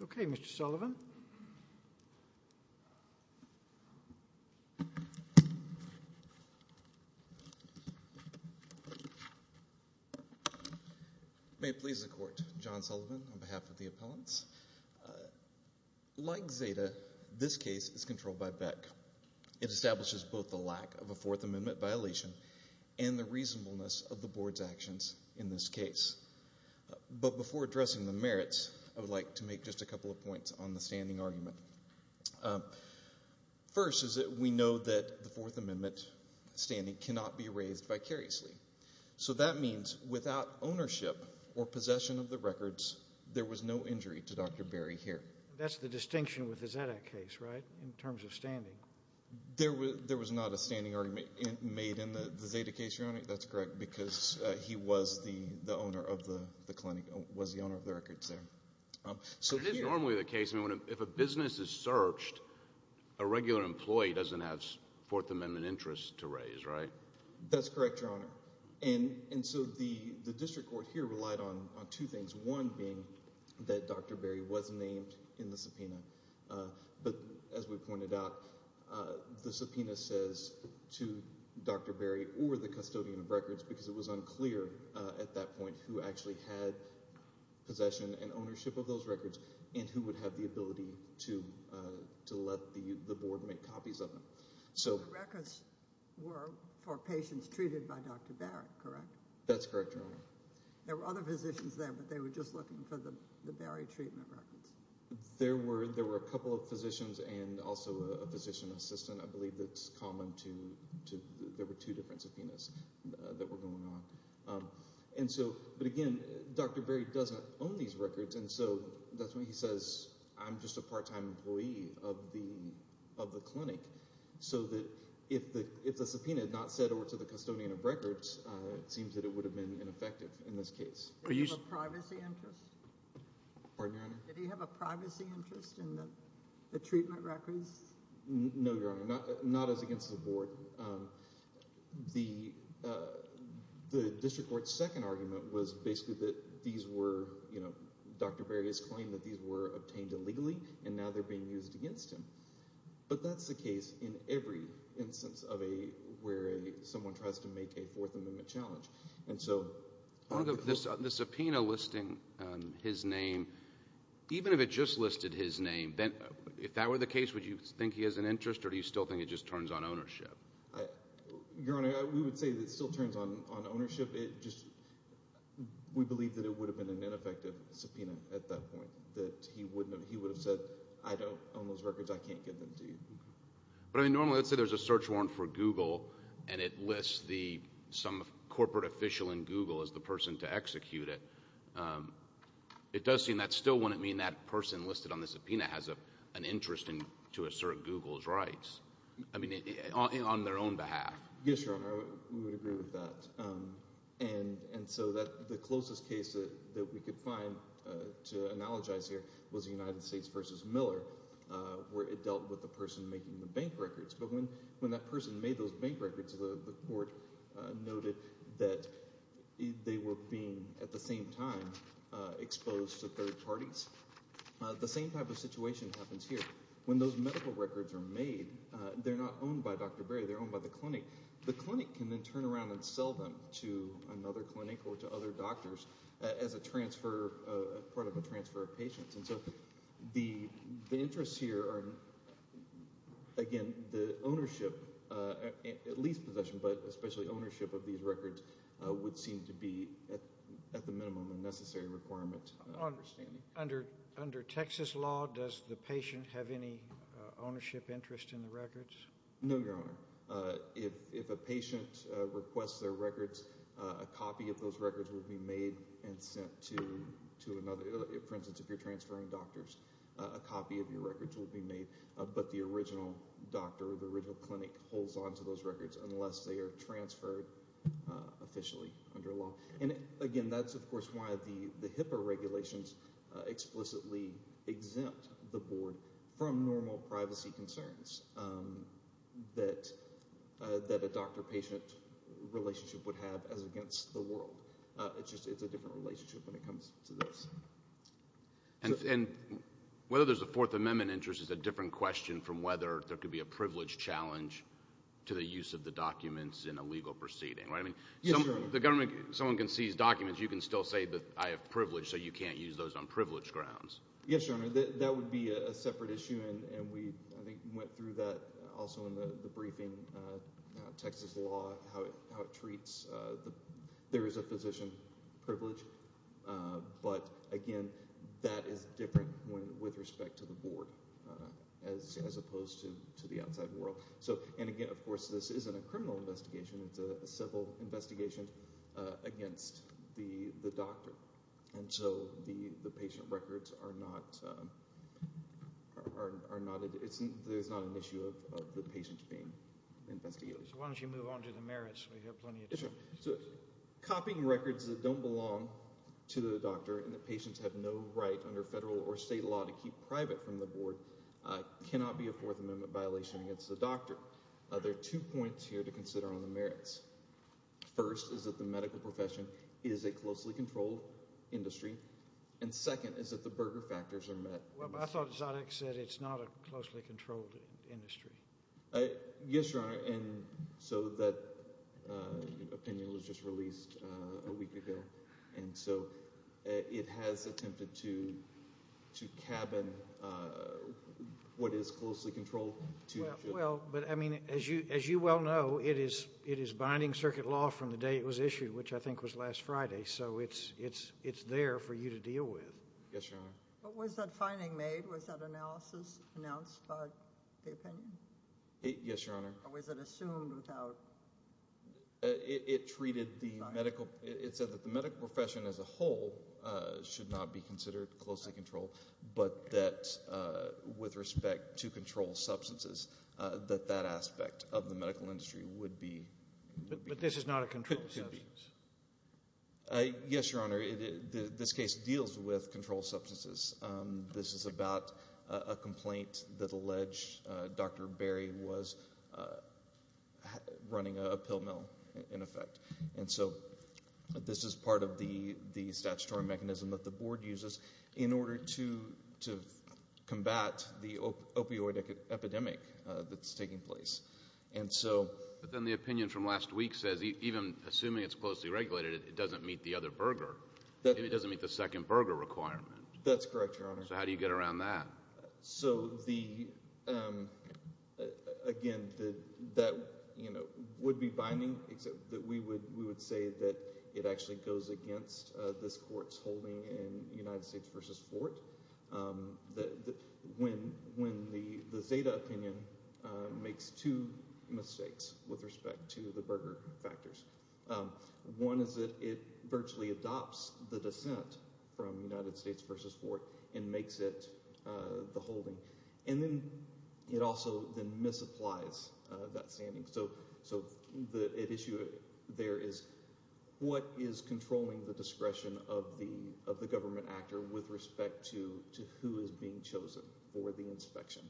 Okay, Mr. Sullivan. May it please the court. John Sullivan on behalf of the appellants. Like Zeta, this case is controlled by Beck. It establishes both the lack of a Fourth Amendment violation and the reasonableness of the board's actions in this case. But before addressing the merits, I would like to make just a couple of points on the standing argument. First is that we know that the Fourth Amendment standing cannot be raised vicariously. So that means without ownership or possession of the records, there was no injury to Dr. Barry here. That's the distinction with the Zeta case, right, in terms of standing? There was not a standing argument made in the Zeta case, Your Honor. That's correct, because he was the owner of the clinic, was the owner of the records there. It is normally the case if a business is searched, a regular employee doesn't have Fourth Amendment interests to raise, right? That's correct, Your Honor. And so the district court here relied on two things, one being that Dr. Barry was named in the subpoena. But as we pointed out, the subpoena says to Dr. Barry or the custodian of records, because it was unclear at that point who actually had possession and ownership of those records and who would have the ability to let the board make copies of them. So the records were for patients treated by Dr. Barry, correct? That's correct, Your Honor. There were other physicians there, but they were just looking for the Barry treatment records. There were a couple of physicians and also a physician assistant, I believe, that's common. There were two different subpoenas that were going on. But again, Dr. Barry doesn't own these records, and so that's why he says, I'm just a part-time employee of the clinic, so that if the subpoena had not said or to the custodian of records, it seems that it would have been ineffective in this case. Did he have a privacy interest? Pardon, Your Honor? Did he have a privacy interest in the treatment records? No, Your Honor, not as against the board. The district court's second argument was basically that these were, you know, Dr. Barry's claim that these were obtained illegally, and now they're being used against him. But that's the case in every instance where someone tries to make a Fourth Amendment challenge. The subpoena listing his name, even if it just listed his name, if that were the case, would you think he has an interest, or do you still think it just turns on ownership? Your Honor, we would say that it still turns on ownership. We believe that it would have been an ineffective subpoena at that point, that he would have said, I don't own those records, I can't give them to you. But, I mean, normally, let's say there's a search warrant for Google, and it lists some corporate official in Google as the person to execute it. It does seem that still wouldn't mean that person listed on the subpoena has an interest to assert Google's rights, I mean, on their own behalf. Yes, Your Honor, we would agree with that. And so the closest case that we could find to analogize here was the United States v. Miller, where it dealt with the person making the bank records. But when that person made those bank records, the court noted that they were being, at the same time, exposed to third parties. The same type of situation happens here. When those medical records are made, they're not owned by Dr. Berry, they're owned by the clinic. The clinic can then turn around and sell them to another clinic or to other doctors as part of a transfer of patients. And so the interests here are, again, the ownership, at least possession, but especially ownership of these records would seem to be, at the minimum, a necessary requirement. Under Texas law, does the patient have any ownership interest in the records? No, Your Honor. If a patient requests their records, a copy of those records would be made and sent to another. For instance, if you're transferring doctors, a copy of your records will be made, but the original doctor or the original clinic holds on to those records unless they are transferred officially under law. And, again, that's, of course, why the HIPAA regulations explicitly exempt the board from normal privacy concerns that a doctor-patient relationship would have as against the world. It's a different relationship when it comes to this. And whether there's a Fourth Amendment interest is a different question from whether there could be a privilege challenge to the use of the documents in a legal proceeding, right? Yes, Your Honor. Someone can seize documents, you can still say that I have privilege, so you can't use those on privilege grounds. Yes, Your Honor, that would be a separate issue, and we went through that also in the briefing. Texas law, how it treats, there is a physician privilege. But, again, that is different with respect to the board as opposed to the outside world. And, again, of course, this isn't a criminal investigation. It's a civil investigation against the doctor. And so the patient records are not, there's not an issue of the patient being investigated. So why don't you move on to the merits? We have plenty of time. Copying records that don't belong to the doctor and the patients have no right under federal or state law to keep private from the board cannot be a Fourth Amendment violation against the doctor. There are two points here to consider on the merits. First is that the medical profession is a closely controlled industry. And second is that the burger factors are met. Well, I thought Zoddick said it's not a closely controlled industry. Yes, Your Honor, and so that opinion was just released a week ago. And so it has attempted to cabin what is closely controlled. Well, but, I mean, as you well know, it is binding circuit law from the day it was issued, which I think was last Friday. So it's there for you to deal with. Yes, Your Honor. What was that finding made? Was that analysis announced by the opinion? Yes, Your Honor. Or was it assumed without? It treated the medical, it said that the medical profession as a whole should not be considered closely controlled, but that with respect to controlled substances, that that aspect of the medical industry would be. But this is not a controlled substance. Yes, Your Honor. This case deals with controlled substances. This is about a complaint that alleged Dr. Berry was running a pill mill, in effect. And so this is part of the statutory mechanism that the board uses in order to combat the opioid epidemic that's taking place. And so. But then the opinion from last week says even assuming it's closely regulated, it doesn't meet the other burger. It doesn't meet the second burger requirement. That's correct, Your Honor. So how do you get around that? So, again, that would be binding, except that we would say that it actually goes against this court's holding in United States v. Fort, when the Zeta opinion makes two mistakes with respect to the burger factors. One is that it virtually adopts the dissent from United States v. Fort and makes it the holding. And then it also then misapplies that standing. So the issue there is what is controlling the discretion of the government actor with respect to who is being chosen for the inspection?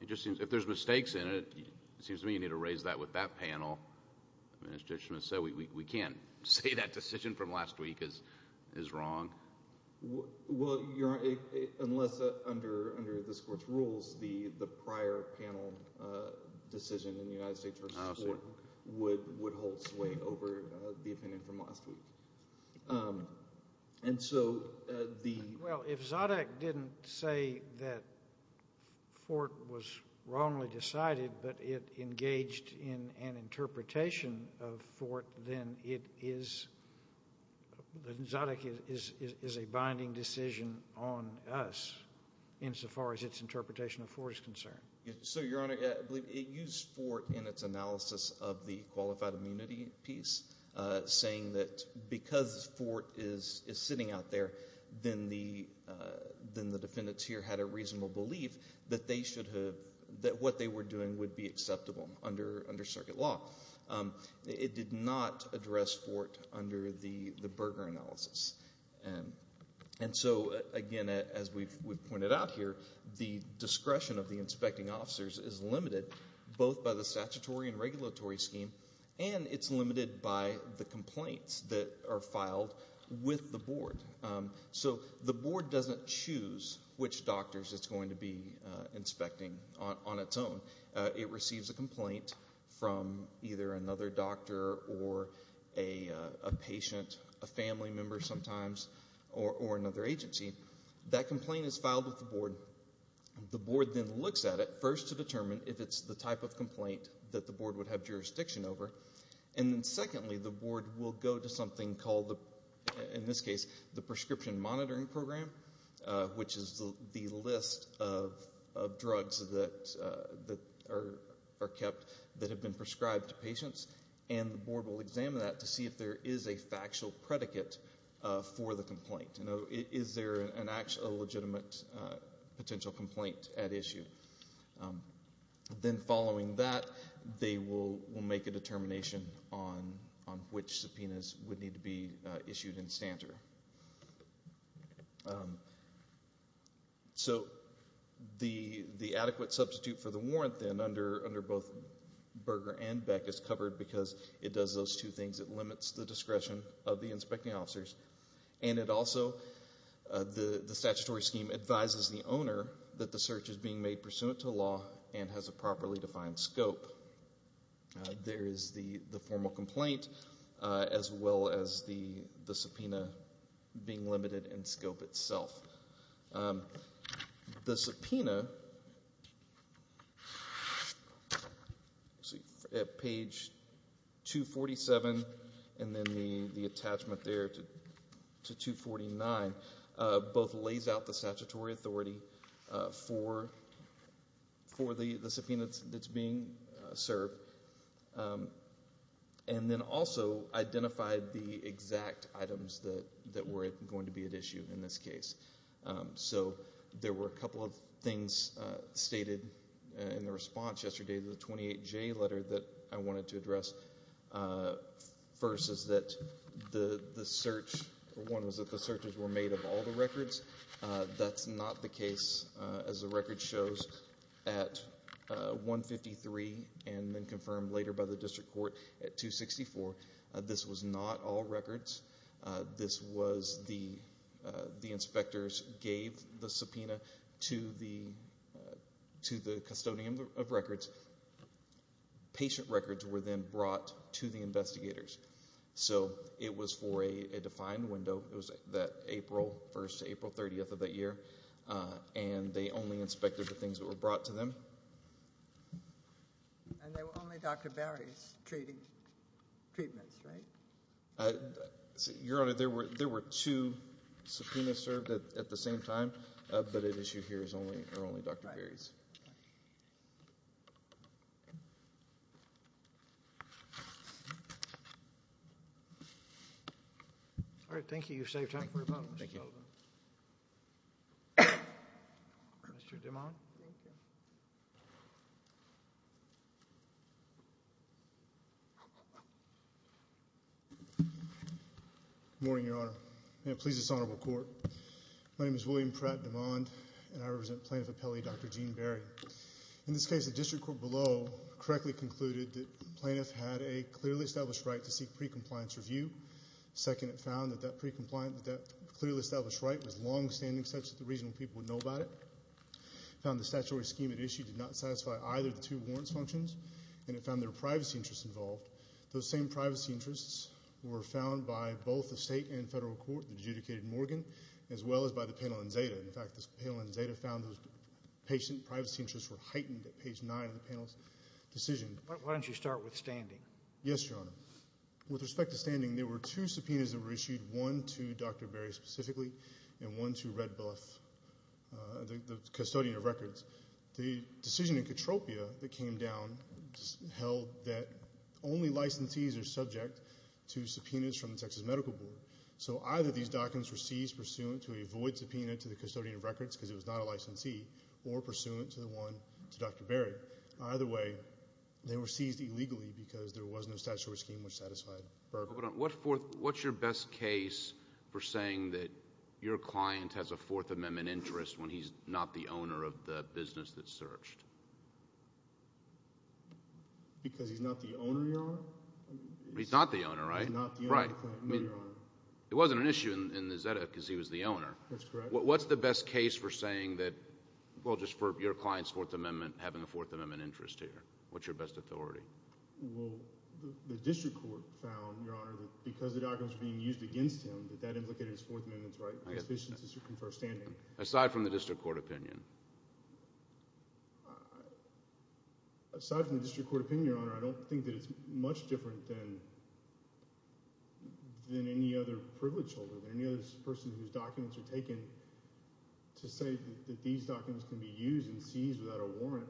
It just seems if there's mistakes in it, it seems to me you need to raise that with that panel. The administration has said we can't say that decision from last week is wrong. Well, Your Honor, unless under this court's rules, the prior panel decision in the United States v. Fort would hold sway over the opinion from last week. Well, if Zodiac didn't say that Fort was wrongly decided, but it engaged in an interpretation of Fort, then Zodiac is a binding decision on us insofar as its interpretation of Fort is concerned. So, Your Honor, it used Fort in its analysis of the qualified immunity piece saying that because Fort is sitting out there, then the defendants here had a reasonable belief that what they were doing would be acceptable under circuit law. It did not address Fort under the burger analysis. And so, again, as we've pointed out here, the discretion of the inspecting officers is limited both by the statutory and regulatory scheme, and it's limited by the complaints that are filed with the board. So the board doesn't choose which doctors it's going to be inspecting on its own. It receives a complaint from either another doctor or a patient, a family member sometimes, or another agency. That complaint is filed with the board. The board then looks at it first to determine if it's the type of complaint that the board would have jurisdiction over, and then, secondly, the board will go to something called, in this case, the Prescription Monitoring Program, which is the list of drugs that are kept that have been prescribed to patients, and the board will examine that to see if there is a factual predicate for the complaint. Is there a legitimate potential complaint at issue? Then following that, they will make a determination on which subpoenas would need to be issued in stanter. So the adequate substitute for the warrant then under both Burger and Beck is covered because it does those two things. It limits the discretion of the inspecting officers, and it also, the statutory scheme advises the owner that the search is being made pursuant to law and has a properly defined scope. There is the formal complaint as well as the subpoena being limited in scope itself. The subpoena, at page 247 and then the attachment there to 249, both lays out the statutory authority for the subpoena that's being served and then also identified the exact items that were going to be at issue in this case. So there were a couple of things stated in the response yesterday to the 28J letter that I wanted to address. First is that the search, one was that the searches were made of all the records. That's not the case as the record shows at 153 and then confirmed later by the district court at 264. This was not all records. This was the inspectors gave the subpoena to the custodian of records. Patient records were then brought to the investigators. So it was for a defined window. It was that April 1st to April 30th of that year, and they only inspected the things that were brought to them. And they were only Dr. Barry's treatments, right? Your Honor, there were two subpoenas served at the same time, but at issue here are only Dr. Barry's. All right. Thank you. You've saved time for your panel. Thank you. Mr. DeMond. Thank you. Good morning, Your Honor. May it please this honorable court, my name is William Pratt DeMond and I represent Plaintiff Appellee Dr. Jean Barry. In this case, the district court below correctly concluded that the plaintiff had a clearly established right to seek pre-compliance review. Second, it found that that pre-compliance, that that clearly established right was longstanding such that the regional people would know about it. It found the statutory scheme at issue did not satisfy either of the two warrants functions, and it found there were privacy interests involved. Those same privacy interests were found by both the state and federal court that adjudicated Morgan as well as by the panel and Zeta. In fact, this panel and Zeta found those patient privacy interests were heightened at page nine of the panel's decision. Why don't you start with standing? Yes, Your Honor. With respect to standing, there were two subpoenas that were issued, one to Dr. Barry specifically and one to Red Bluff, the custodian of records. The decision in Katropia that came down held that only licensees are subject to subpoenas from the Texas Medical Board. So either these documents were seized pursuant to a void subpoena to the custodian of records because it was not a licensee or pursuant to the one to Dr. Barry. Either way, they were seized illegally because there was no statutory scheme which satisfied Burk. What's your best case for saying that your client has a Fourth Amendment interest when he's not the owner of the business that's searched? Because he's not the owner, Your Honor? He's not the owner, right? He's not the owner of the client, no, Your Honor. It wasn't an issue in the Zeta because he was the owner. That's correct. What's the best case for saying that, well, just for your client's Fourth Amendment, having a Fourth Amendment interest here? What's your best authority? Well, the district court found, Your Honor, that because the documents were being used against him that that implicated his Fourth Amendment's rights. I get that. As far as standing. Aside from the district court opinion? Aside from the district court opinion, Your Honor, I don't think that it's much different than any other privileged holder, than any other person whose documents are taken to say that these documents can be used and seized without a warrant.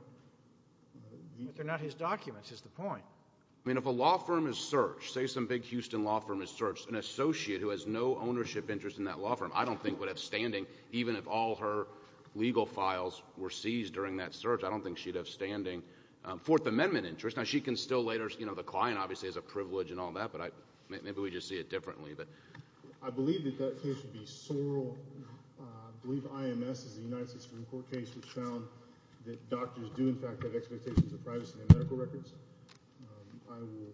But they're not his documents, is the point. I mean, if a law firm is searched, say some big Houston law firm is searched, an associate who has no ownership interest in that law firm I don't think would have standing even if all her legal files were seized during that search. I don't think she'd have standing Fourth Amendment interest. Now, she can still later, you know, the client obviously has a privilege and all that, but maybe we just see it differently. I believe that that case would be sorrel. I believe IMS is the United States Supreme Court case which found that doctors do, in fact, have expectations of privacy in their medical records. I will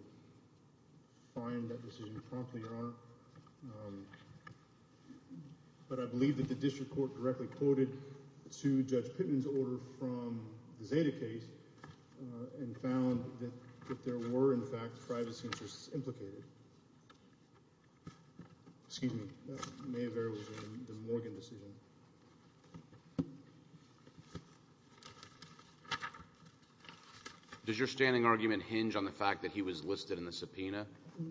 find that decision promptly, Your Honor. But I believe that the district court directly quoted to Judge Pittman's order from the Zeta case and found that there were, in fact, privacy interests implicated. Excuse me. That may have errored the Morgan decision. Does your standing argument hinge on the fact that he was listed in the subpoena?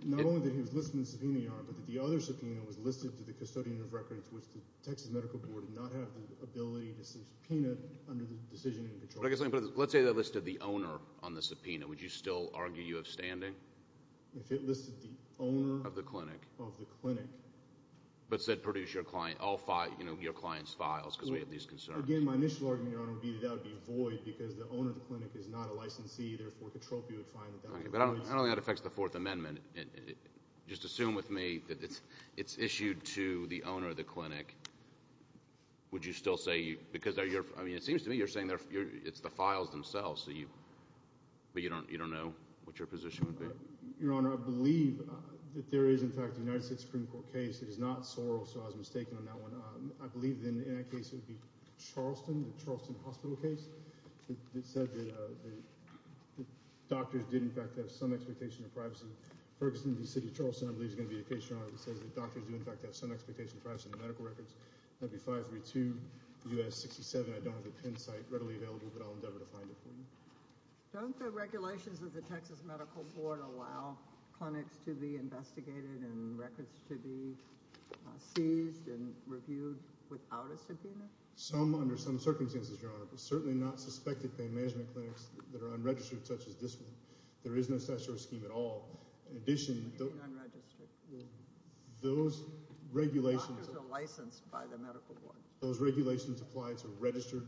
Not only that he was listed in the subpoena, Your Honor, but that the other subpoena was listed to the custodian of records which the Texas Medical Board did not have the ability to subpoena under the decision in control. Let's say they listed the owner on the subpoena. Would you still argue you have standing? If it listed the owner of the clinic. But said produce your client's files because we have these concerns. Again, my initial argument, Your Honor, would be that that would be void because the owner of the clinic is not a licensee. I don't think that affects the Fourth Amendment. Just assume with me that it's issued to the owner of the clinic. Would you still say, because it seems to me you're saying it's the files themselves, but you don't know what your position would be? Your Honor, I believe that there is, in fact, a United States Supreme Court case. It is not Sorrell, so I was mistaken on that one. I believe in that case it would be Charleston, the Charleston Hospital case. It said that doctors did, in fact, have some expectation of privacy. Ferguson v. City of Charleston, I believe, is going to be a case, Your Honor, that says that doctors do, in fact, have some expectation of privacy in the medical records. That would be 532 U.S. 67. I don't have the PIN site readily available, but I'll endeavor to find it for you. Don't the regulations of the Texas Medical Board allow clinics to be investigated and records to be seized and reviewed without a subpoena? Some, under some circumstances, Your Honor, but certainly not suspected pain management clinics that are unregistered, such as this one. There is no statutory scheme at all. In addition, those regulations apply to registered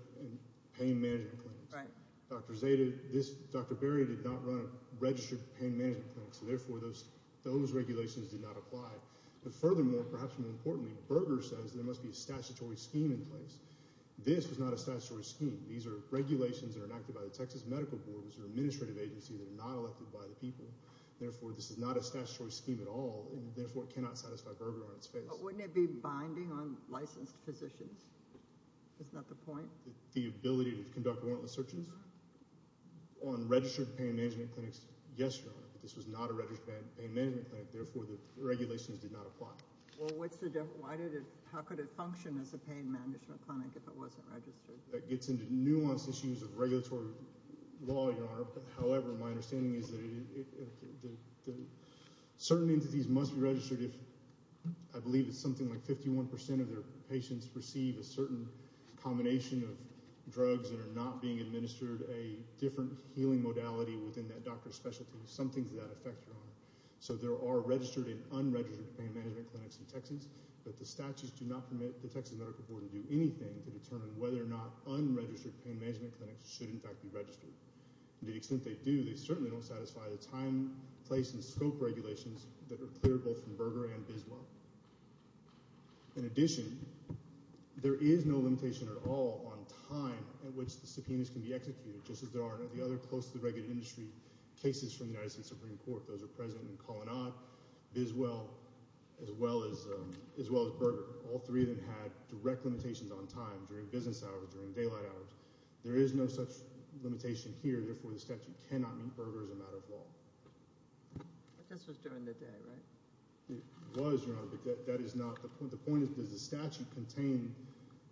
pain management clinics. Dr. Berry did not run a registered pain management clinic, so therefore those regulations did not apply. But furthermore, perhaps more importantly, Berger says there must be a statutory scheme in place. This is not a statutory scheme. These are regulations that are enacted by the Texas Medical Board. These are administrative agencies that are not elected by the people. Therefore, this is not a statutory scheme at all, and therefore it cannot satisfy Berger on its face. But wouldn't it be binding on licensed physicians? Isn't that the point? The ability to conduct warrantless searches on registered pain management clinics? Yes, Your Honor, but this was not a registered pain management clinic. Therefore, the regulations did not apply. Well, what's the difference? How could it function as a pain management clinic if it wasn't registered? That gets into nuanced issues of regulatory law, Your Honor. However, my understanding is that certain entities must be registered if I believe it's something like 51% of their patients receive a certain combination of drugs that are not being administered a different healing modality within that doctor's specialty. Some things of that effect, Your Honor. So there are registered and unregistered pain management clinics in Texas, but the statutes do not permit the Texas Medical Board to do anything to determine whether or not unregistered pain management clinics should in fact be registered. To the extent they do, they certainly don't satisfy the time, place, and scope regulations that are clear both from Berger and Biswa. In addition, there is no limitation at all on time at which the subpoenas can be executed, just as there are in the other close to the regular industry cases from the United States Supreme Court. Those are present in Kalanad, Biswa, as well as Berger. All three of them had direct limitations on time during business hours, during daylight hours. There is no such limitation here. Therefore, the statute cannot meet Berger as a matter of law. I guess it was during the day, right? It was, Your Honor, but that is not the point. The point is does the statute contain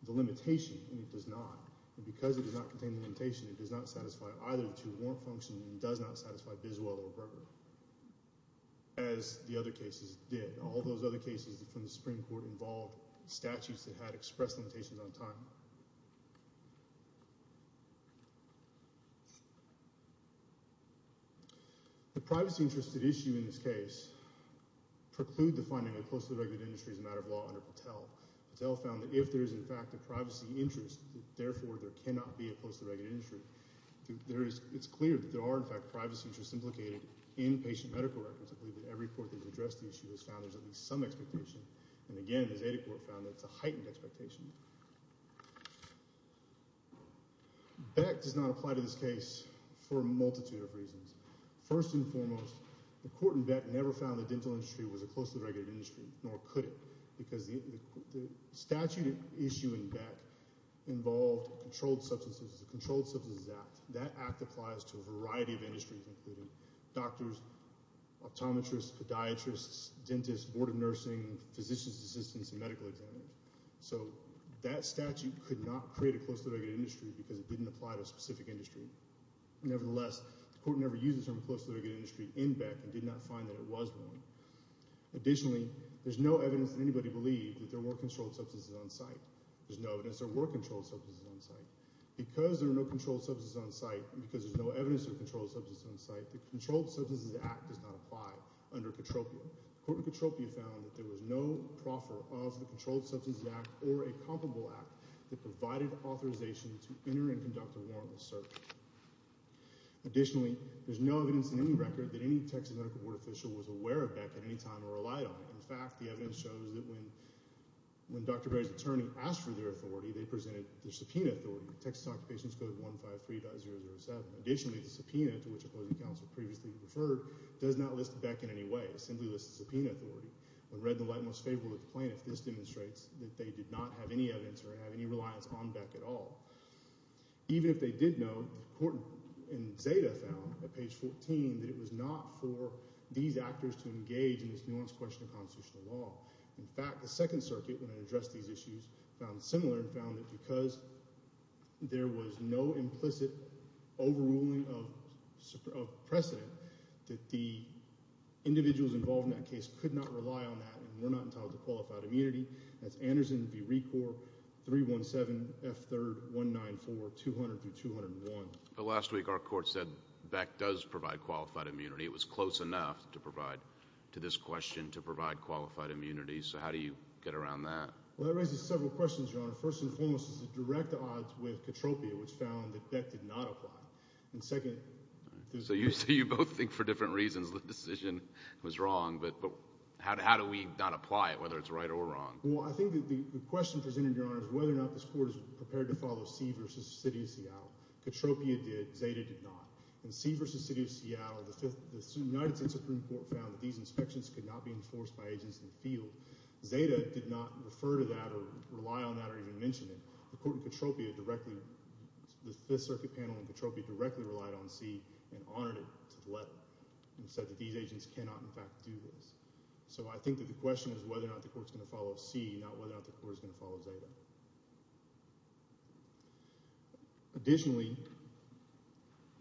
the limitation, and it does not. Because it does not contain the limitation, it does not satisfy either of the two warrant functions, and it does not satisfy Biswa or Berger, as the other cases did. All those other cases from the Supreme Court involved statutes that had expressed limitations on time. The privacy-interested issue in this case preclude the finding that close to the regular industry is a matter of law under Patel. Patel found that if there is, in fact, a privacy interest, therefore, there cannot be a close to the regular industry. It's clear that there are, in fact, privacy interests implicated in patient medical records. I believe that every court that has addressed the issue has found there's at least some expectation. And again, the Zeta Court found that it's a heightened expectation. Beck does not apply to this case for a multitude of reasons. First and foremost, the court in Beck never found the dental industry was a close to the regular industry, nor could it. Because the statute issue in Beck involved controlled substances, the Controlled Substances Act. That act applies to a variety of industries, including doctors, optometrists, podiatrists, dentists, board of nursing, physicians' assistants, and medical examiners. So that statute could not create a close to the regular industry because it didn't apply to a specific industry. Nevertheless, the court never used the term close to the regular industry in Beck and did not find that it was one. Additionally, there's no evidence that anybody believed that there were controlled substances on site. There's no evidence there were controlled substances on site. Because there were no controlled substances on site and because there's no evidence of controlled substances on site, the Controlled Substances Act does not apply under Katropia. The court in Katropia found that there was no proffer of the Controlled Substances Act or a comparable act that provided authorization to enter and conduct a warrantless search. Additionally, there's no evidence in any record that any Texas medical court official was aware of Beck at any time or relied on it. In fact, the evidence shows that when Dr. Berry's attorney asked for their authority, they presented their subpoena authority, Texas Occupations Code 153.007. Additionally, the subpoena, to which opposing counsel previously referred, does not list Beck in any way. It simply lists the subpoena authority. When read in the light most favorable of the plaintiff, this demonstrates that they did not have any evidence or have any reliance on Beck at all. Even if they did know, the court in Zeta found at page 14 that it was not for these actors to engage in this nuanced question of constitutional law. In fact, the Second Circuit, when it addressed these issues, found similar and found that because there was no implicit overruling of precedent, that the individuals involved in that case could not rely on that and were not entitled to qualified immunity. That's Anderson v. Recorp, 317F3194200-201. But last week our court said Beck does provide qualified immunity. It was close enough to provide, to this question, to provide qualified immunity. So how do you get around that? Well, that raises several questions, Your Honor. First and foremost is the direct odds with Katropia, which found that Beck did not apply. And second— So you both think for different reasons the decision was wrong, but how do we not apply it, whether it's right or wrong? Well, I think the question presented, Your Honor, is whether or not this court is prepared to follow C v. City of Seattle. Katropia did. Zeta did not. In C v. City of Seattle, the United States Supreme Court found that these inspections could not be enforced by agents in the field. Zeta did not refer to that or rely on that or even mention it. The court in Katropia directly—the Fifth Circuit panel in Katropia directly relied on C and honored it to the letter and said that these agents cannot, in fact, do this. So I think that the question is whether or not the court is going to follow C, not whether or not the court is going to follow Zeta. Additionally,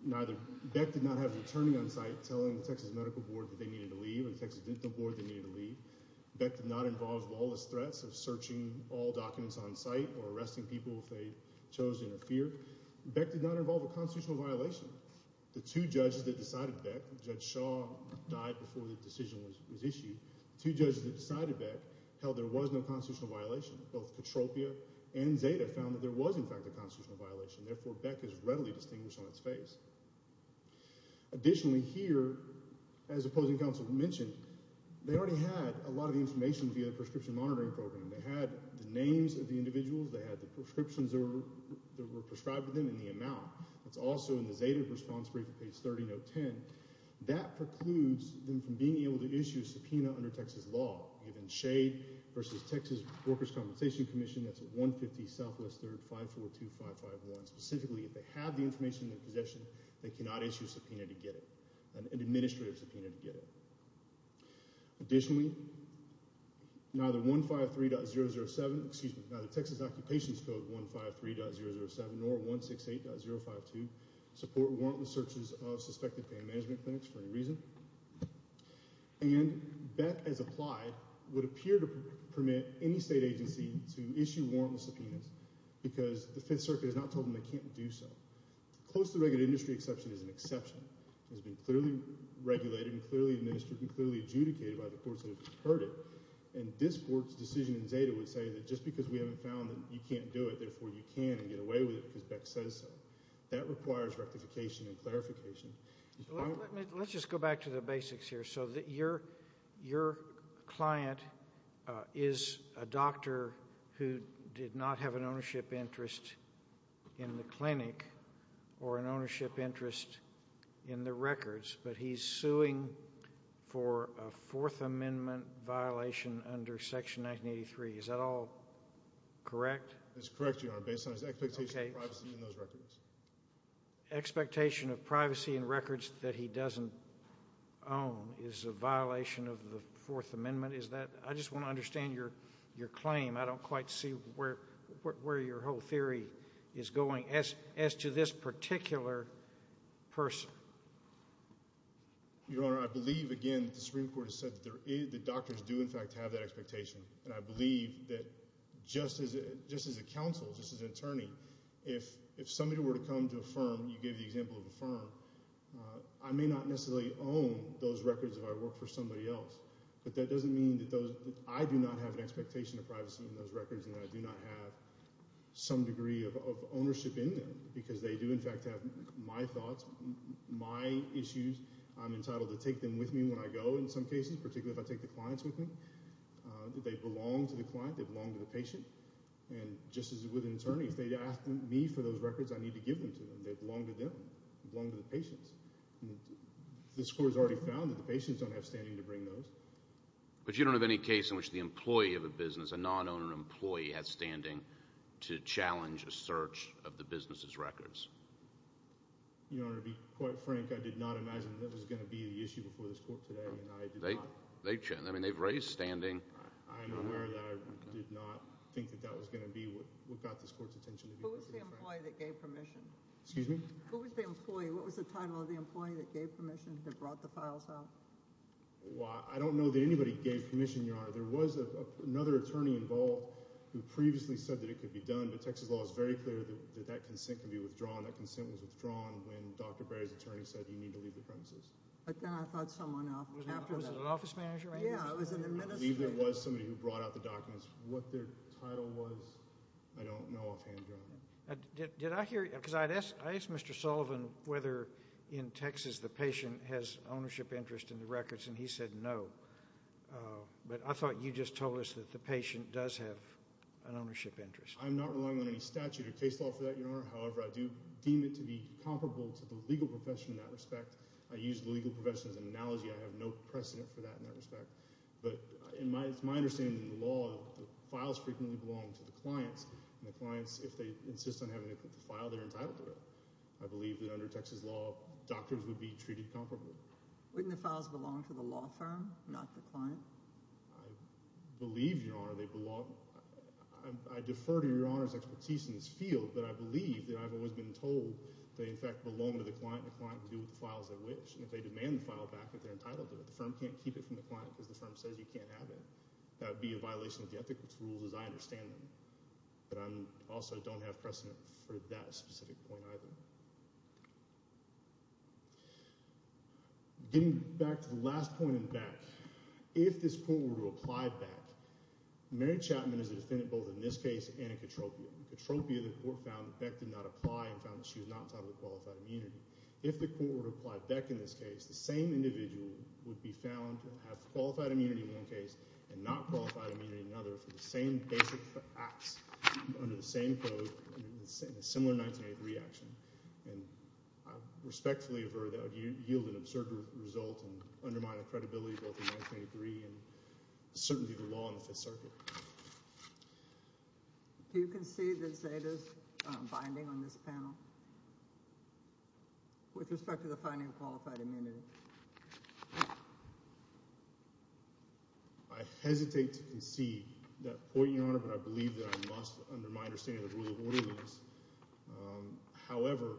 neither—Beck did not have an attorney on site telling the Texas Medical Board that they needed to leave or the Texas Dental Board that they needed to leave. Beck did not involve lawless threats of searching all documents on site or arresting people if they chose to interfere. Beck did not involve a constitutional violation. The two judges that decided Beck—Judge Shaw died before the decision was issued. The two judges that decided Beck held there was no constitutional violation. Both Katropia and Zeta found that there was, in fact, a constitutional violation. Therefore, Beck is readily distinguished on its face. Additionally, here, as opposing counsel mentioned, they already had a lot of information via the Prescription Monitoring Program. They had the names of the individuals. They had the prescriptions that were prescribed to them and the amount. It's also in the Zeta response brief at page 30, note 10. That precludes them from being able to issue a subpoena under Texas law. We have in Shade v. Texas Workers' Compensation Commission, that's at 150 Southwest 3rd, 542551. Specifically, if they have the information in their possession, they cannot issue a subpoena to get it, an administrative subpoena to get it. Additionally, neither 153.007—excuse me, neither Texas Occupations Code 153.007 nor 168.052 support warrantless searches of suspected pain management clinics for any reason. And Beck, as applied, would appear to permit any state agency to issue warrantless subpoenas because the Fifth Circuit has not told them they can't do so. Close to the regular industry exception is an exception. It has been clearly regulated and clearly administered and clearly adjudicated by the courts that have heard it. And this court's decision in Zeta would say that just because we haven't found that you can't do it, therefore you can and get away with it because Beck says so. That requires rectification and clarification. Let's just go back to the basics here. So your client is a doctor who did not have an ownership interest in the clinic or an ownership interest in the records, but he's suing for a Fourth Amendment violation under Section 1983. Is that all correct? That's correct, Your Honor, based on his expectation of privacy in those records. Expectation of privacy in records that he doesn't own is a violation of the Fourth Amendment? I just want to understand your claim. I don't quite see where your whole theory is going as to this particular person. Your Honor, I believe, again, that the Supreme Court has said that doctors do, in fact, have that expectation. And I believe that just as a counsel, just as an attorney, if somebody were to come to a firm, you gave the example of a firm, I may not necessarily own those records if I work for somebody else. But that doesn't mean that I do not have an expectation of privacy in those records and that I do not have some degree of ownership in them because they do, in fact, have my thoughts, my issues. I'm entitled to take them with me when I go in some cases, particularly if I take the clients with me. They belong to the client. They belong to the patient. And just as with an attorney, if they ask me for those records, I need to give them to them. They belong to them. They belong to the patients. The Supreme Court has already found that the patients don't have standing to bring those. But you don't have any case in which the employee of a business, a non-owner employee, has standing to challenge a search of the business's records? Your Honor, to be quite frank, I did not imagine that was going to be the issue before this court today, and I did not. They've raised standing. I am aware that I did not think that that was going to be what got this court's attention. Who was the employee that gave permission? Excuse me? Who was the employee? What was the title of the employee that gave permission, that brought the files out? Well, I don't know that anybody gave permission, Your Honor. There was another attorney involved who previously said that it could be done. But Texas law is very clear that that consent can be withdrawn. That consent was withdrawn when Dr. Berry's attorney said you need to leave the premises. But then I thought someone else. Was it an office manager? Yeah, it was an administrator. I believe it was somebody who brought out the documents. What their title was, I don't know offhand, Your Honor. Did I hear you? Because I asked Mr. Sullivan whether in Texas the patient has ownership interest in the records, and he said no. But I thought you just told us that the patient does have an ownership interest. I'm not relying on any statute or case law for that, Your Honor. However, I do deem it to be comparable to the legal profession in that respect. I use the legal profession as an analogy. I have no precedent for that in that respect. But it's my understanding in the law that the files frequently belong to the clients. And the clients, if they insist on having to put the file, they're entitled to it. I believe that under Texas law, doctors would be treated comparably. Wouldn't the files belong to the law firm, not the client? I believe, Your Honor, they belong. I defer to Your Honor's expertise in this field, but I believe that I've always been told they, in fact, belong to the client. And the client can do what the files they wish. And if they demand the file back, they're entitled to it. The firm can't keep it from the client because the firm says you can't have it. That would be a violation of the ethics rules as I understand them. But I also don't have precedent for that specific point either. Getting back to the last point in Beck, if this court were to apply Beck, Mary Chapman is a defendant both in this case and in Katropia. In Katropia, the court found that Beck did not apply and found that she was not entitled to qualified immunity. If the court were to apply Beck in this case, the same individual would be found to have qualified immunity in one case and not qualified immunity in another for the same basic acts under the same code in a similar 1983 action. And I respectfully affirm that would yield an absurd result and undermine the credibility of both the 1983 and certainly the law in the Fifth Circuit. Do you concede that Zeta's binding on this panel with respect to the finding of qualified immunity? I hesitate to concede that point, Your Honor, but I believe that I must under my understanding of the rule of orderliness. However,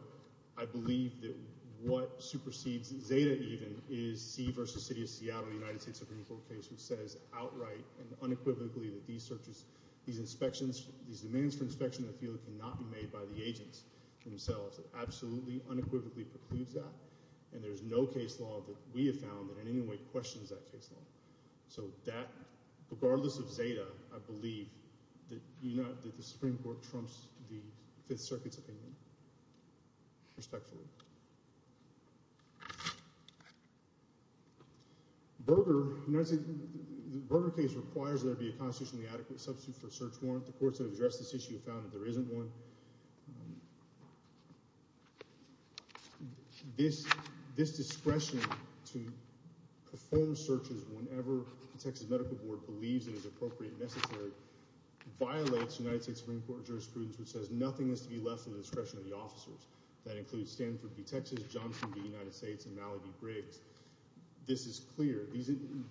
I believe that what supersedes Zeta even is C v. City of Seattle, the United States Supreme Court case, which says outright and unequivocally that these searches, these inspections, these demands for inspection in the field cannot be made by the agents themselves. It absolutely unequivocally precludes that, and there's no case law that we have found that in any way questions that case law. So that, regardless of Zeta, I believe that the Supreme Court trumps the Fifth Circuit's opinion, respectfully. Berger case requires there be a constitutionally adequate substitute for a search warrant. The courts that have addressed this issue have found that there isn't one. This discretion to perform searches whenever the Texas Medical Board believes it is appropriate and necessary violates United States Supreme Court jurisprudence, which says nothing is to be left to the discretion of the officers. That includes Stanford v. Texas, Johnson v. United States, and Mallaby v. Briggs. This is clear.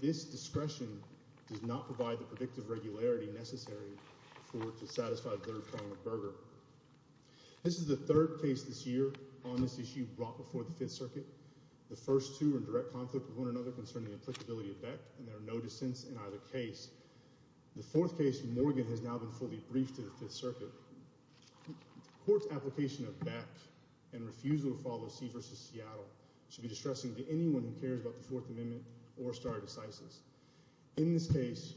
This discretion does not provide the predictive regularity necessary to satisfy the third claim of Berger. This is the third case this year on this issue brought before the Fifth Circuit. The first two are in direct conflict with one another concerning the applicability of Beck, and there are no dissents in either case. The fourth case, Morgan, has now been fully briefed to the Fifth Circuit. The court's application of Beck and refusal to follow C v. Seattle should be distressing to anyone who cares about the Fourth Amendment or Starr decisis. In this case,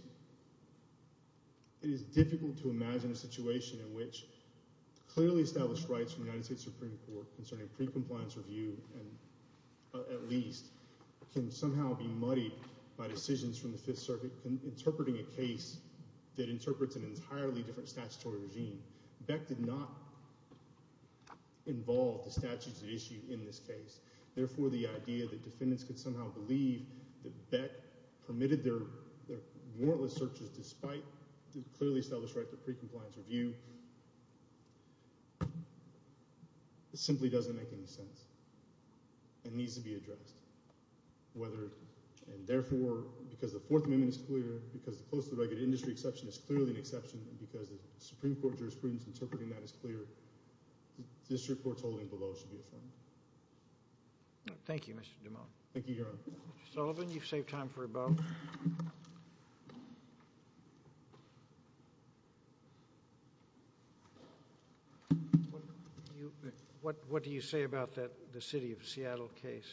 it is difficult to imagine a situation in which clearly established rights from the United States Supreme Court concerning pre-compliance review, at least, can somehow be muddied by decisions from the Fifth Circuit interpreting a case that interprets an entirely different statutory regime. Beck did not involve the statutes issued in this case. Therefore, the idea that defendants could somehow believe that Beck permitted their warrantless searches despite the clearly established right to pre-compliance review simply doesn't make any sense. It needs to be addressed. Therefore, because the Fourth Amendment is clear, because the close to the regular industry exception is clearly an exception, and because the Supreme Court jurisprudence interpreting that is clear, this report's holding below should be affirmed. Thank you, Mr. DuMont. Thank you, Your Honor. Mr. Sullivan, you've saved time for a vote. What do you say about the City of Seattle case?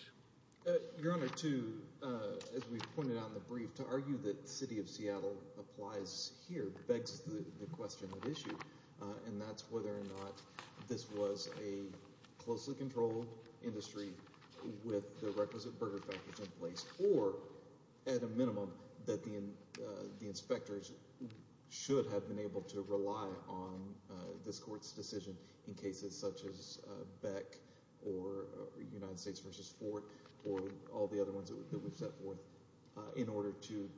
Your Honor, as we've pointed out in the brief, to argue that City of Seattle applies here begs the question at issue, and that's whether or not this was a closely controlled industry with the requisite burger factors in place or, at a minimum, that the inspectors should have been able to rely on this court's decision in cases such as Beck or United States v. Ford or all the other ones that we've set forth in order to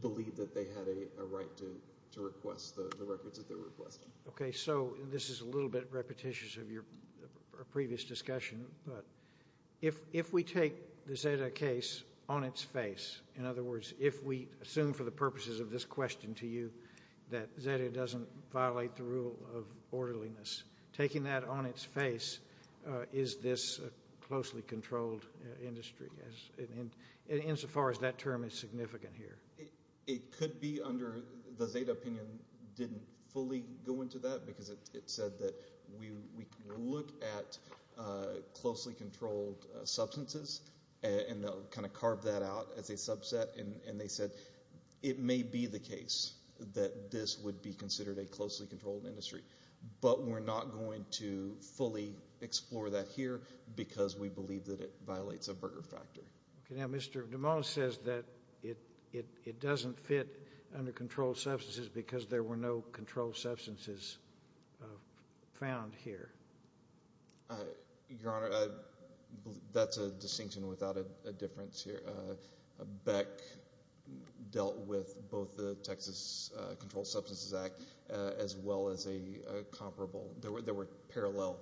believe that they had a right to request the records that they're requesting. Okay, so this is a little bit repetitious of your previous discussion, but if we take the Zeta case on its face, in other words, if we assume for the purposes of this question to you that Zeta doesn't violate the rule of orderliness, taking that on its face, is this a closely controlled industry insofar as that term is significant here? It could be under the Zeta opinion didn't fully go into that because it said that we look at closely controlled substances and kind of carve that out as a subset, and they said it may be the case that this would be considered a closely controlled industry, but we're not going to fully explore that here because we believe that it violates a burger factor. Okay, now Mr. DuMont says that it doesn't fit under controlled substances because there were no controlled substances found here. Your Honor, that's a distinction without a difference here. Beck dealt with both the Texas Controlled Substances Act as well as a comparable, there were parallel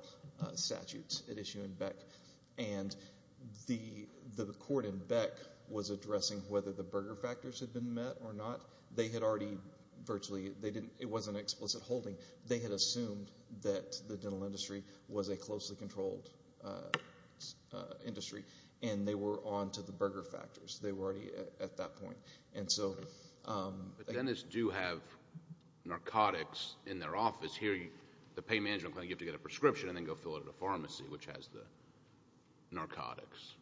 statutes at issue in Beck, and the court in Beck was addressing whether the burger factors had been met or not. They had already virtually, it wasn't explicit holding, they had assumed that the dental industry was a closely controlled industry, and they were on to the burger factors. They were already at that point. But dentists do have narcotics in their office. Here, the pain management clinic, you have to get a prescription and then go fill it at a pharmacy, which has the narcotics.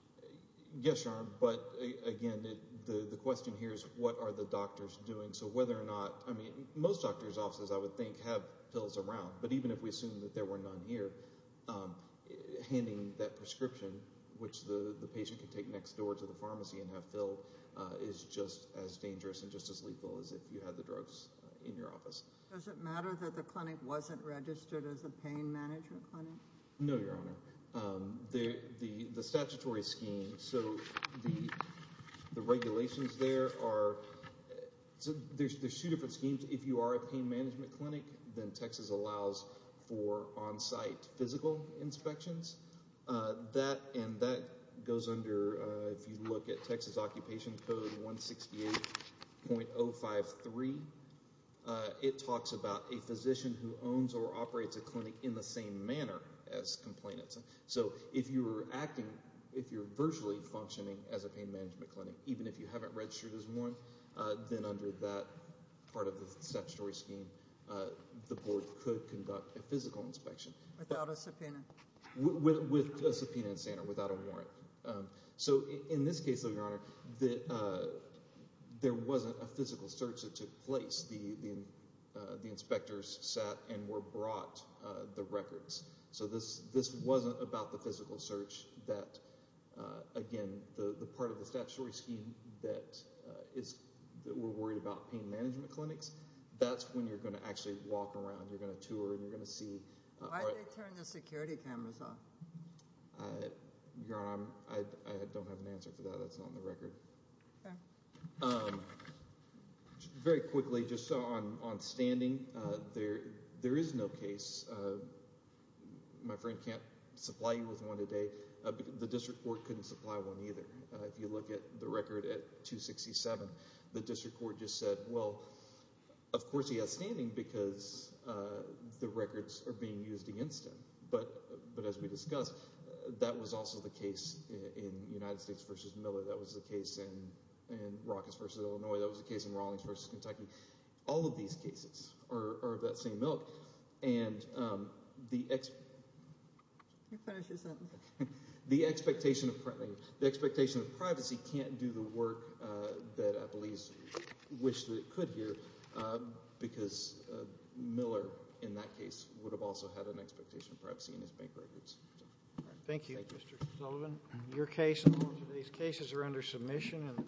Yes, Your Honor, but again, the question here is what are the doctors doing, so whether or not, I mean most doctors' offices I would think have pills around, but even if we assume that there were none here, handing that prescription, which the patient can take next door to the pharmacy and have filled, is just as dangerous and just as lethal as if you had the drugs in your office. Does it matter that the clinic wasn't registered as a pain management clinic? No, Your Honor. The statutory scheme, so the regulations there are, there's two different schemes. If you are a pain management clinic, then Texas allows for on-site physical inspections, and that goes under, if you look at Texas Occupation Code 168.053, it talks about a physician who owns or operates a clinic in the same manner as complainants. So if you're acting, if you're virtually functioning as a pain management clinic, even if you haven't registered as one, then under that part of the statutory scheme, the board could conduct a physical inspection. Without a subpoena? With a subpoena in Santa, without a warrant. So in this case, though, Your Honor, there wasn't a physical search that took place. The inspectors sat and were brought the records. So this wasn't about the physical search. That, again, the part of the statutory scheme that we're worried about pain management clinics, that's when you're going to actually walk around, you're going to tour, and you're going to see. Why did they turn the security cameras off? Your Honor, I don't have an answer for that. That's not on the record. Okay. Very quickly, just on standing, there is no case. My friend can't supply you with one today. The district court couldn't supply one either. If you look at the record at 267, the district court just said, well, of course he has standing because the records are being used against him. But as we discussed, that was also the case in United States v. Miller. That was the case in Rockets v. Illinois. That was the case in Rawlings v. Kentucky. All of these cases are of that same milk. And the expectation of privacy can't do the work that I believe is wished that it could here because Miller, in that case, would have also had an expectation of privacy in his bank records. Thank you, Mr. Sullivan. Your case and all of these cases are under submission.